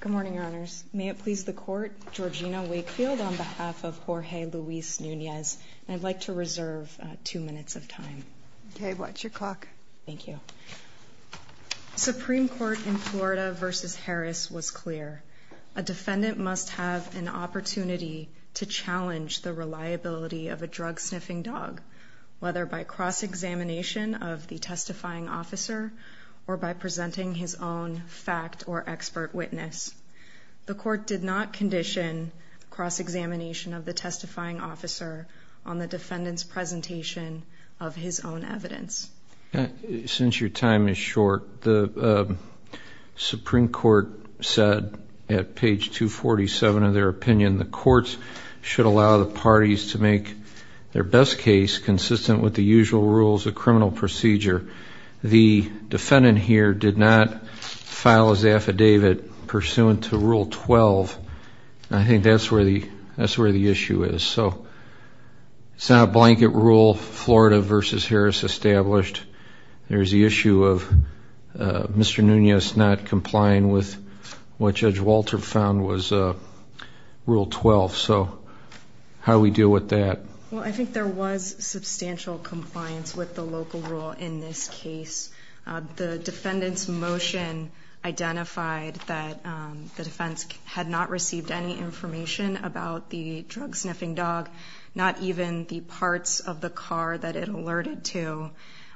Good morning, Your Honors. May it please the Court, Georgina Wakefield on behalf of Jorge Luis Nunez, and I'd like to reserve two minutes of time. Okay, watch your clock. Thank you. Supreme Court in Florida v. Harris was clear. A defendant must have an opportunity to challenge the reliability of a drug-sniffing dog, whether by cross-examination of the testifying officer or by presenting his own fact or expert witness. The Court did not condition cross-examination of the testifying officer on the defendant's presentation of his own evidence. Since your time is short, the Supreme Court said at page 247 of their opinion, the courts should allow the parties to make their best case consistent with the usual rules of criminal procedure. The defendant here did not file his affidavit pursuant to Rule 12. I think that's where the issue is. So it's not a blanket rule Florida v. Harris established. There's the issue of Mr. Nunez not complying with what Judge Walter found was Rule 12. So how do we deal with that? Well, I think there was substantial compliance with the local rule in this case. The defendant's motion identified that the defense had not received any information about the drug-sniffing dog, not even the parts of the car that it alerted to.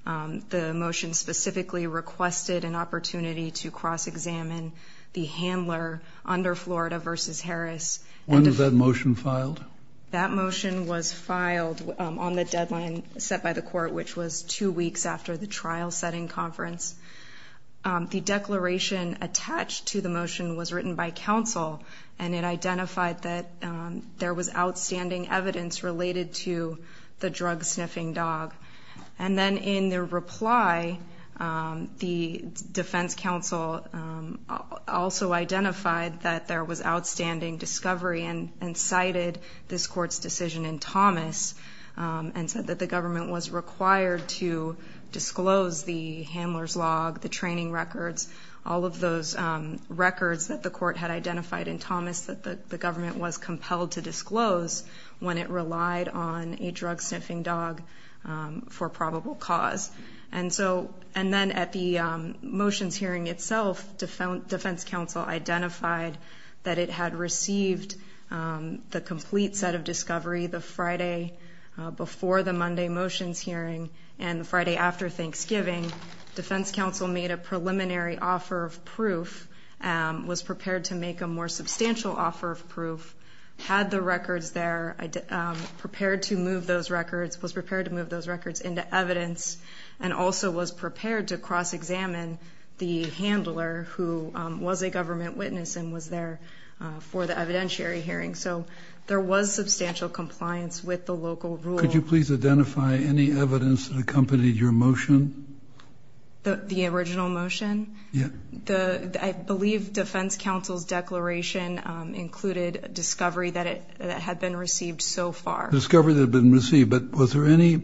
The motion specifically requested an opportunity to cross-examine the handler under Florida v. Harris. When was that motion filed? That motion was filed on the deadline set by the court, which was two weeks after the trial-setting conference. The declaration attached to the motion was written by counsel, and it identified that there was outstanding evidence related to the drug-sniffing dog. And then in the reply, the defense counsel also identified that there was outstanding discovery and cited this court's decision in Thomas and said that the government was required to disclose the handler's log, the training records, all of those records that the court had identified in Thomas that the government was compelled to disclose when it relied on a drug-sniffing dog for probable cause. And then at the motions hearing itself, defense counsel identified that it had received the complete set of discovery the Friday before the Monday motions hearing and the Friday after Thanksgiving. Defense counsel made a preliminary offer of proof, was prepared to make a more substantial offer of proof, had the records there, prepared to move those records, was prepared to move those records into evidence, and also was prepared to cross-examine the handler who was a government witness and was there for the evidentiary hearing. So there was substantial compliance with the local rule. Could you please identify any evidence that accompanied your motion? The original motion? Yeah. I believe defense counsel's declaration included discovery that had been received so far. Discovery that had been received. But was there any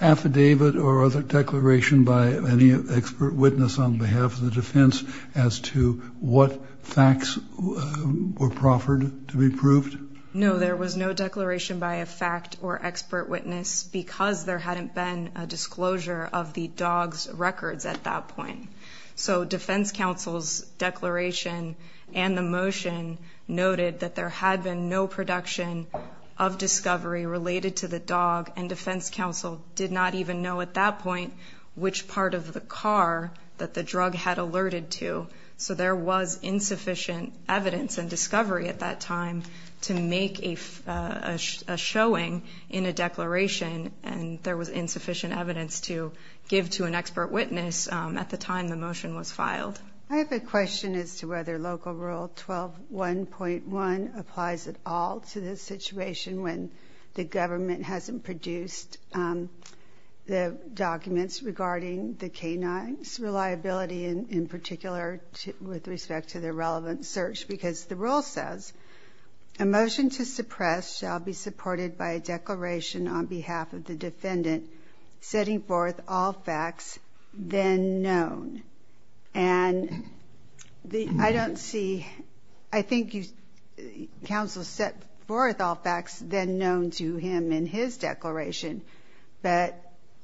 affidavit or other declaration by any expert witness on behalf of the defense as to what facts were proffered to be proved? No, there was no declaration by a fact or expert witness because there hadn't been a disclosure of the dog's records at that point. So defense counsel's declaration and the motion noted that there had been no production of discovery related to the dog, and defense counsel did not even know at that point which part of the car that the drug had alerted to. So there was insufficient evidence and discovery at that time to make a showing in a declaration, and there was insufficient evidence to give to an expert witness at the time the motion was filed. I have a question as to whether local rule 12.1.1 applies at all to this situation when the government hasn't produced the documents regarding the canine's reliability, in particular with respect to the relevant search because the rule says, a motion to suppress shall be supported by a declaration on behalf of the defendant setting forth all facts then known. And I don't see, I think counsel set forth all facts then known to him in his declaration, but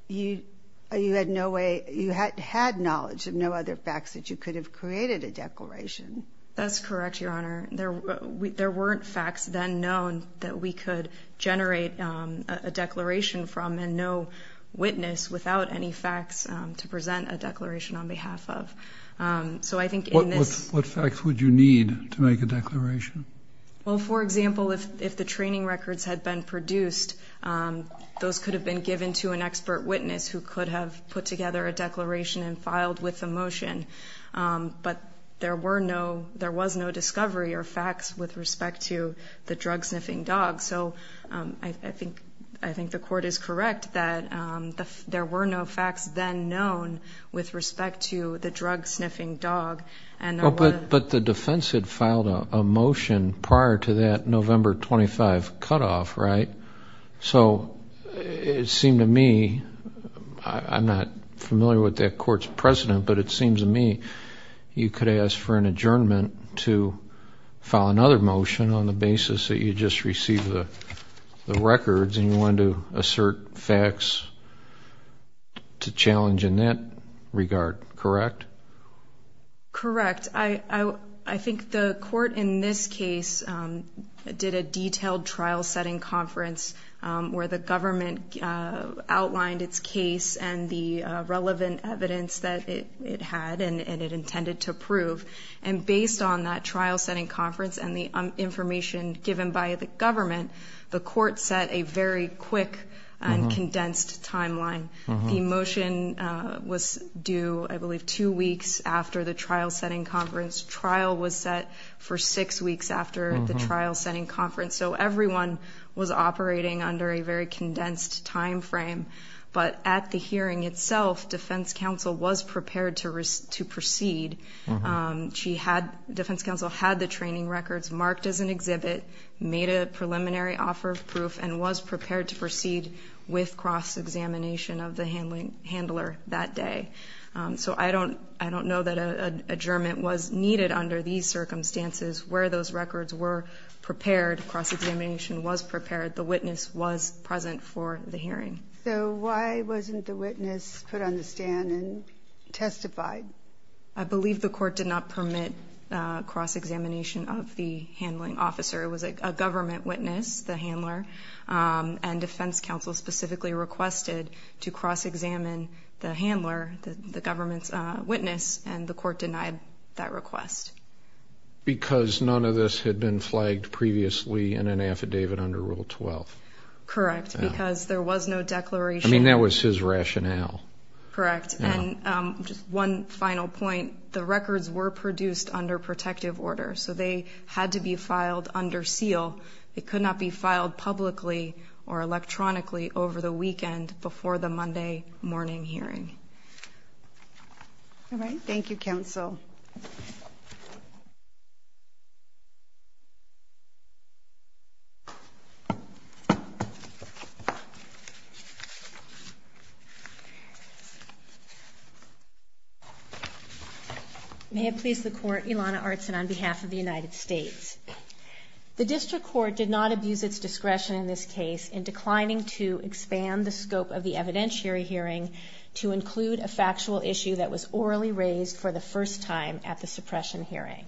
you had no way, you had knowledge of no other facts that you could have created a declaration. That's correct, Your Honor. There weren't facts then known that we could generate a declaration from and no witness without any facts to present a declaration on behalf of. What facts would you need to make a declaration? Well, for example, if the training records had been produced, those could have been given to an expert witness who could have put together a declaration and filed with the motion, but there was no discovery or facts with respect to the drug-sniffing dog. So I think the court is correct that there were no facts then known with respect to the drug-sniffing dog. But the defense had filed a motion prior to that November 25 cutoff, right? So it seemed to me, I'm not familiar with that court's precedent, but it seems to me you could ask for an adjournment to file another motion on the basis that you just received the records and you wanted to assert facts to challenge in that regard, correct? Correct. I think the court in this case did a detailed trial-setting conference where the government outlined its case and the relevant evidence that it had and it intended to prove. And based on that trial-setting conference and the information given by the government, the court set a very quick and condensed timeline. The motion was due, I believe, two weeks after the trial-setting conference. Trial was set for six weeks after the trial-setting conference. So everyone was operating under a very condensed time frame. But at the hearing itself, defense counsel was prepared to proceed. Defense counsel had the training records marked as an exhibit, made a preliminary offer of proof, and was prepared to proceed with cross-examination of the handler that day. So I don't know that an adjournment was needed under these circumstances. Where those records were prepared, cross-examination was prepared. The witness was present for the hearing. So why wasn't the witness put on the stand and testified? I believe the court did not permit cross-examination of the handling officer. It was a government witness, the handler, and defense counsel specifically requested to cross-examine the handler, the government's witness, and the court denied that request. Because none of this had been flagged previously in an affidavit under Rule 12. Correct, because there was no declaration. I mean, that was his rationale. Correct. And just one final point. The records were produced under protective order, so they had to be filed under seal. They could not be filed publicly or electronically over the weekend before the Monday morning hearing. All right. Thank you, counsel. May it please the Court, Ilana Artsin on behalf of the United States. The district court did not abuse its discretion in this case in declining to expand the scope of the evidentiary hearing to include a factual issue that was orally raised for the first time at the suppression hearing.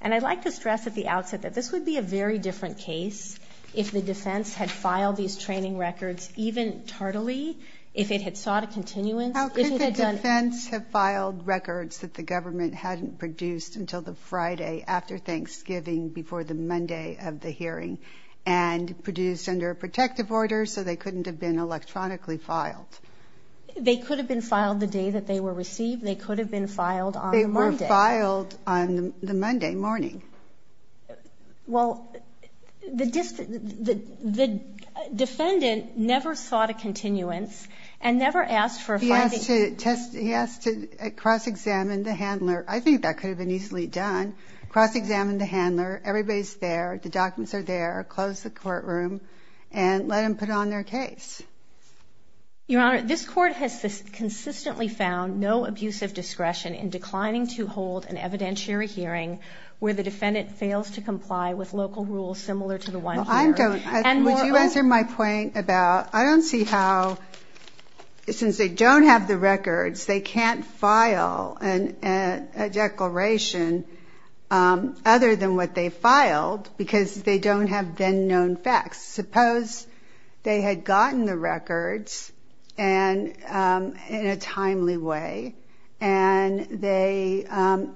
And I'd like to stress at the outset that this would be a very different case if the defense had filed these training records, even tardily, if it had sought a continuance. How could the defense have filed records that the government hadn't produced until the Friday after Thanksgiving before the Monday of the hearing and produced under a protective order so they couldn't have been electronically filed? They could have been filed the day that they were received. They could have been filed on Monday. They were filed on the Monday morning. Well, the defendant never sought a continuance and never asked for a filing. He asked to cross-examine the handler. I think that could have been easily done. Cross-examine the handler. Everybody's there. The documents are there. Close the courtroom and let them put on their case. Your Honor, this Court has consistently found no abuse of discretion in declining to hold an evidentiary hearing where the defendant fails to comply with local rules similar to the one here. Well, I don't. Would you answer my point about I don't see how, since they don't have the records, they can't file a declaration other than what they filed because they don't have then-known facts. Suppose they had gotten the records in a timely way and they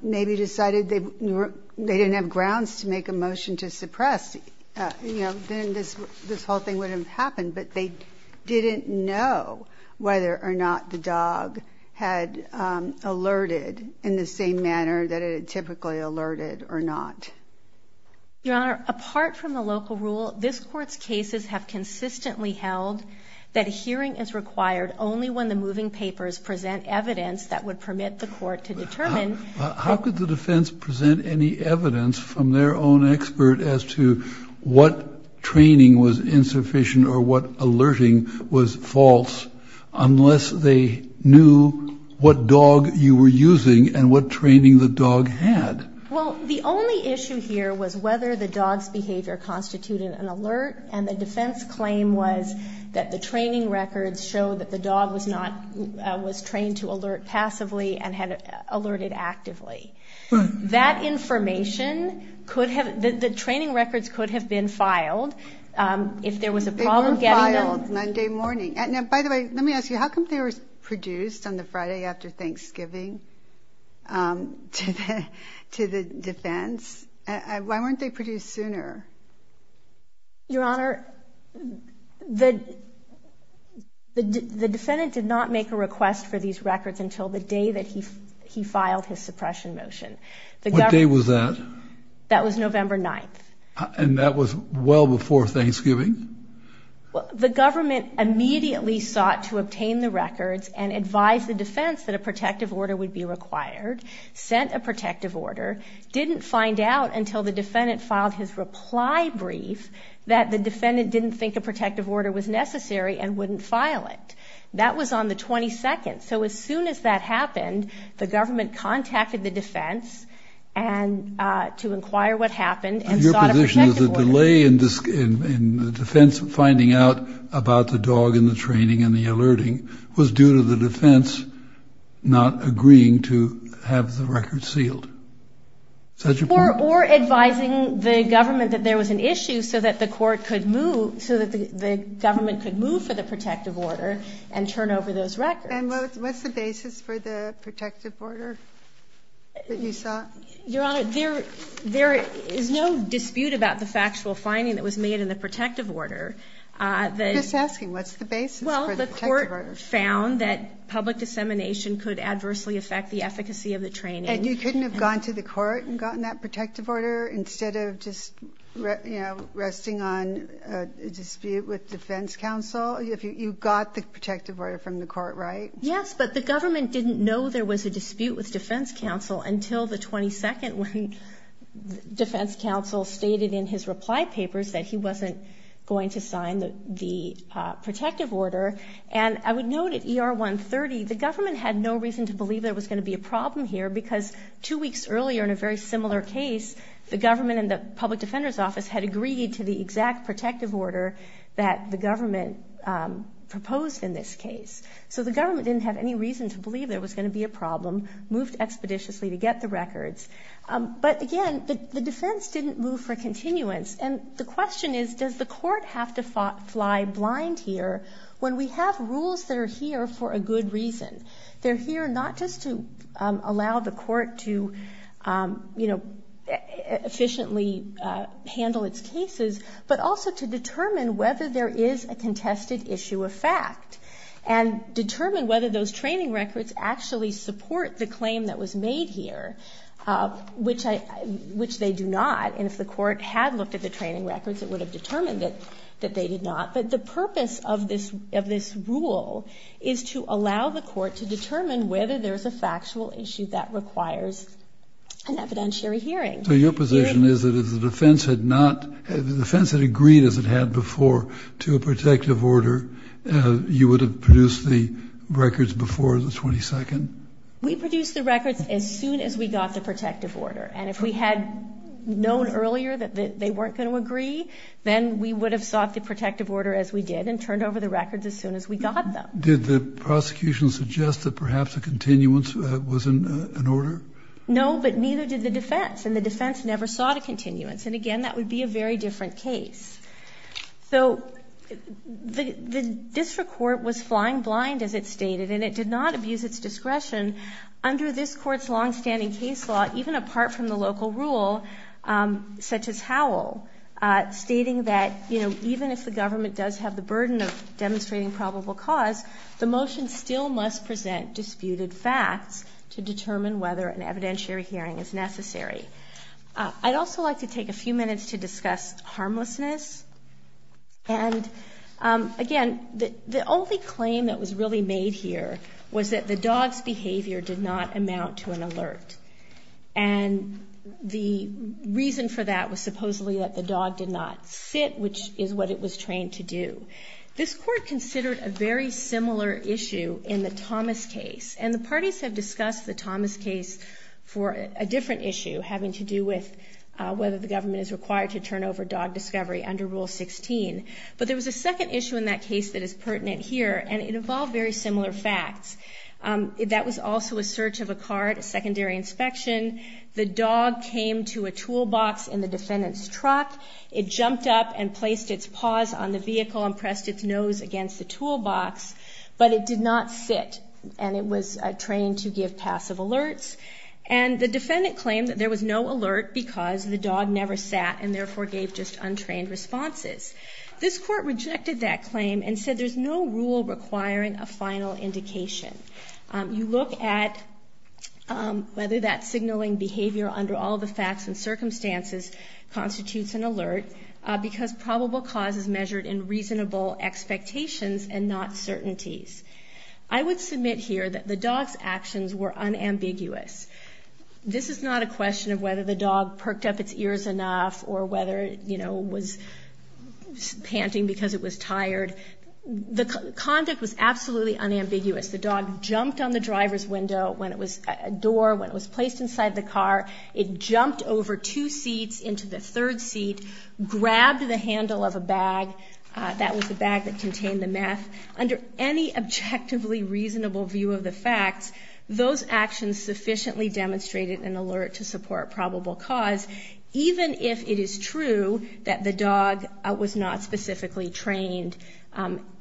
maybe decided they didn't have grounds to make a motion to suppress. Then this whole thing wouldn't have happened, but they didn't know whether or not the dog had alerted in the same manner that it typically alerted or not. Your Honor, apart from the local rule, this Court's cases have consistently held that a hearing is required only when the moving papers present evidence that would permit the Court to determine. How could the defense present any evidence from their own expert what training was insufficient or what alerting was false unless they knew what dog you were using and what training the dog had? Well, the only issue here was whether the dog's behavior constituted an alert, and the defense claim was that the training records showed that the dog was trained to alert passively and had alerted actively. The training records could have been filed if there was a problem getting them. They were filed Monday morning. Now, by the way, let me ask you, how come they were produced on the Friday after Thanksgiving to the defense? Why weren't they produced sooner? Your Honor, the defendant did not make a request for these records until the day that he filed his suppression motion. What day was that? That was November 9th. And that was well before Thanksgiving? The government immediately sought to obtain the records and advised the defense that a protective order would be required, sent a protective order, didn't find out until the defendant filed his reply brief that the defendant didn't think a protective order was necessary and wouldn't file it. That was on the 22nd. So as soon as that happened, the government contacted the defense to inquire what happened and sought a protective order. Your position is the delay in the defense finding out about the dog and the training and the alerting was due to the defense not agreeing to have the records sealed. Is that your point? Or advising the government that there was an issue so that the court could move so that the government could move for the protective order and turn over those records. And what's the basis for the protective order that you sought? Your Honor, there is no dispute about the factual finding that was made in the protective order. Well, the court found that public dissemination could adversely affect the efficacy of the training. And you couldn't have gone to the court and gotten that protective order instead of just resting on a dispute with defense counsel? You got the protective order from the court, right? Yes, but the government didn't know there was a dispute with defense counsel until the 22nd when defense counsel stated in his reply papers that he wasn't going to sign the protective order. And I would note at ER 130, the government had no reason to believe there was going to be a problem here because two weeks earlier in a very similar case, the government and the public defender's office had agreed to the exact protective order that the government proposed in this case. So the government didn't have any reason to believe there was going to be a problem, moved expeditiously to get the records. But again, the defense didn't move for continuance. And the question is, does the court have to fly blind here when we have rules that are here for a good reason? They're here not just to allow the court to, you know, efficiently handle its cases, but also to determine whether there is a contested issue of fact and determine whether those training records actually support the claim that was made here, which they do not. And if the court had looked at the training records, it would have determined that they did not. But the purpose of this rule is to allow the court to determine whether there is a factual issue that requires an evidentiary hearing. So your position is that if the defense had not, if the defense had agreed as it had before to a protective order, you would have produced the records before the 22nd? We produced the records as soon as we got the protective order. And if we had known earlier that they weren't going to agree, then we would have sought the protective order as we did and turned over the records as soon as we got them. Did the prosecution suggest that perhaps a continuance was in order? No, but neither did the defense. And the defense never sought a continuance. And again, that would be a very different case. So the district court was flying blind, as it stated, and it did not abuse its discretion. Under this court's longstanding case law, even apart from the local rule, such as Howell, stating that even if the government does have the burden of demonstrating probable cause, the motion still must present disputed facts to determine whether an evidentiary hearing is necessary. I'd also like to take a few minutes to discuss harmlessness. And again, the only claim that was really made here was that the dog's behavior did not amount to an alert. And the reason for that was supposedly that the dog did not sit, which is what it was trained to do. This court considered a very similar issue in the Thomas case. And the parties have discussed the Thomas case for a different issue, having to do with whether the government is required to turn over dog discovery under Rule 16. But there was a second issue in that case that is pertinent here, and it involved very similar facts. That was also a search of a car at a secondary inspection. The dog came to a toolbox in the defendant's truck. It jumped up and placed its paws on the vehicle and pressed its nose against the toolbox. But it did not sit, and it was trained to give passive alerts. And the defendant claimed that there was no alert because the dog never sat and therefore gave just untrained responses. This court rejected that claim and said there's no rule requiring a final indication. You look at whether that signaling behavior under all the facts and circumstances constitutes an alert, because probable cause is measured in reasonable expectations and not certainties. I would submit here that the dog's actions were unambiguous. This is not a question of whether the dog perked up its ears enough or whether, you know, it was panting because it was tired. The conduct was absolutely unambiguous. The dog jumped on the driver's window when it was a door, when it was placed inside the car. It jumped over two seats into the third seat, grabbed the handle of a bag. That was the bag that contained the meth. Under any objectively reasonable view of the facts, those actions sufficiently demonstrated an alert to support probable cause, even if it is true that the dog was not specifically trained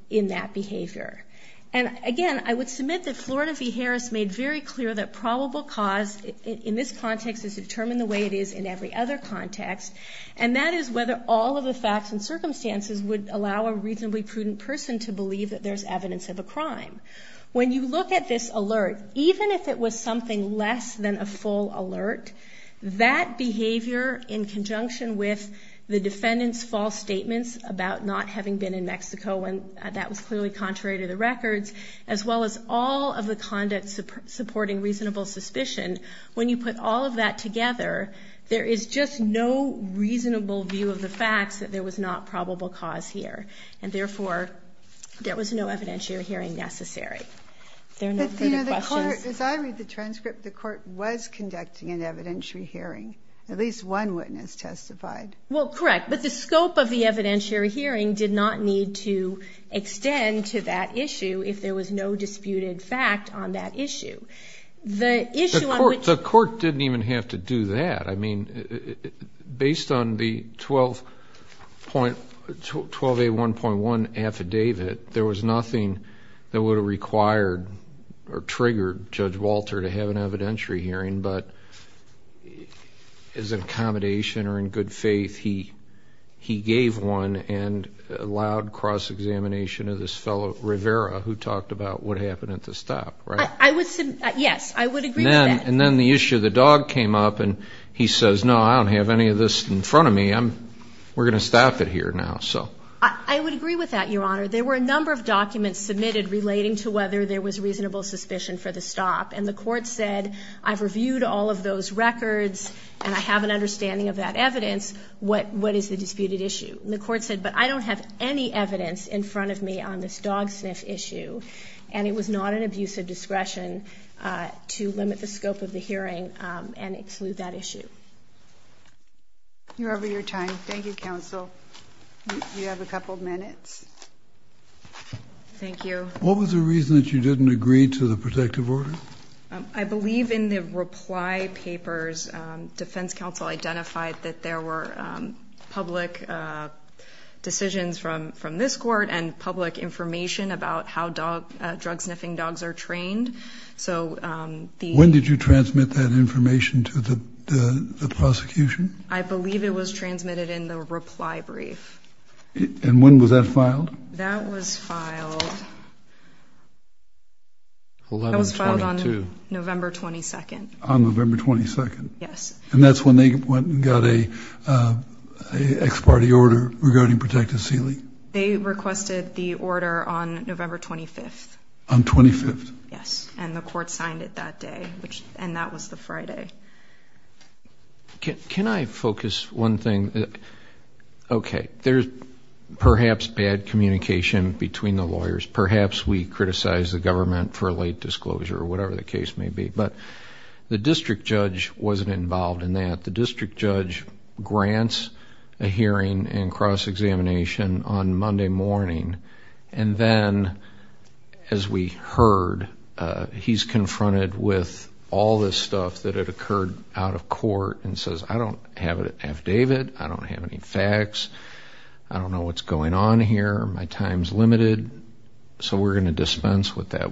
in that behavior. And again, I would submit that Florida v. Harris made very clear that probable cause in this context is determined the way it is in every other context, and that is whether all of the facts and circumstances would allow a reasonably prudent person to believe that there's evidence of a crime. When you look at this alert, even if it was something less than a full alert, that behavior in conjunction with the defendant's false statements about not having been in Mexico when that was clearly contrary to the records, as well as all of the conduct supporting reasonable suspicion, when you put all of that together, there is just no reasonable view of the facts that there was not probable cause here. And therefore, there was no evidentiary hearing necessary. There are no further questions. But, you know, the Court, as I read the transcript, the Court was conducting an evidentiary hearing. At least one witness testified. Well, correct. But the scope of the evidentiary hearing did not need to extend to that issue if there was no disputed fact on that issue. The issue on which... The Court didn't even have to do that. I mean, based on the 12A1.1 affidavit, there was nothing that would have required or triggered Judge Walter to have an evidentiary hearing, but as an accommodation or in good faith, he gave one and allowed cross-examination of this fellow, Rivera, who talked about what happened at the stop, right? Yes, I would agree with that. And then the issue of the dog came up and he says, no, I don't have any of this in front of me. We're going to stop it here now. I would agree with that, Your Honor. There were a number of documents submitted relating to whether there was reasonable suspicion for the stop. And the Court said, I've reviewed all of those records and I have an understanding of that evidence. What is the disputed issue? And the Court said, but I don't have any evidence in front of me on this dog sniff issue. And it was not an abuse of discretion to limit the scope of the hearing and exclude that issue. You're over your time. Thank you, counsel. You have a couple of minutes. Thank you. What was the reason that you didn't agree to the protective order? I believe in the reply papers, defense counsel identified that there were public decisions from this court and public information about how drug sniffing dogs are trained. When did you transmit that information to the prosecution? I believe it was transmitted in the reply brief. And when was that filed? That was filed on November 22. On November 22? Yes. And that's when they went and got an ex parte order regarding protective sealing? They requested the order on November 25. On 25th? Yes, and the Court signed it that day, and that was the Friday. Can I focus one thing? Okay, there's perhaps bad communication between the lawyers. Perhaps we criticized the government for late disclosure or whatever the case may be. But the district judge wasn't involved in that. The district judge grants a hearing and cross-examination on Monday morning, and then, as we heard, he's confronted with all this stuff that had occurred out of court and says, I don't have an affidavit, I don't have any facts, I don't know what's going on here, my time's limited, so we're going to dispense with that.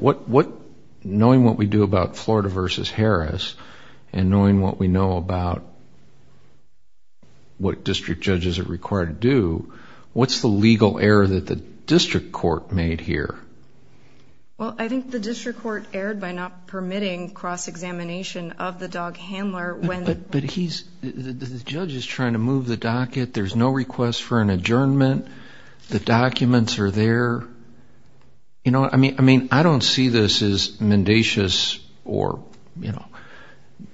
Knowing what we do about Florida v. Harris and knowing what we know about what district judges are required to do, what's the legal error that the district court made here? Well, I think the district court erred by not permitting cross-examination of the dog handler. But the judge is trying to move the docket. There's no request for an adjournment. The documents are there. I mean, I don't see this as mendacious or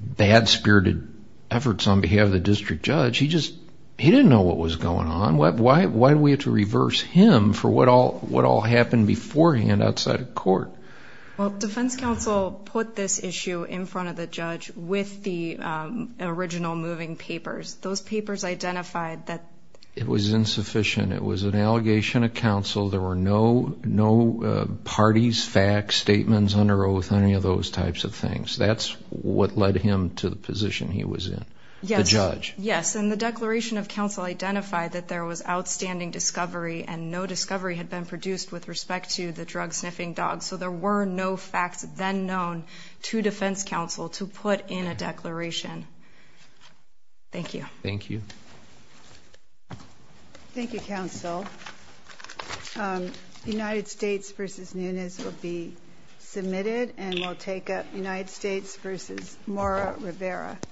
bad-spirited efforts on behalf of the district judge. He didn't know what was going on. Why do we have to reverse him for what all happened beforehand outside of court? Well, defense counsel put this issue in front of the judge with the original moving papers. Those papers identified that it was insufficient. It was an allegation of counsel. There were no parties, facts, statements under oath, any of those types of things. That's what led him to the position he was in, the judge. Yes, and the declaration of counsel identified that there was outstanding discovery and no discovery had been produced with respect to the drug-sniffing dog. So there were no facts then known to defense counsel to put in a declaration. Thank you. Thank you. Thank you, counsel. United States v. Nunes will be submitted, and we'll take up United States v. Mora Rivera.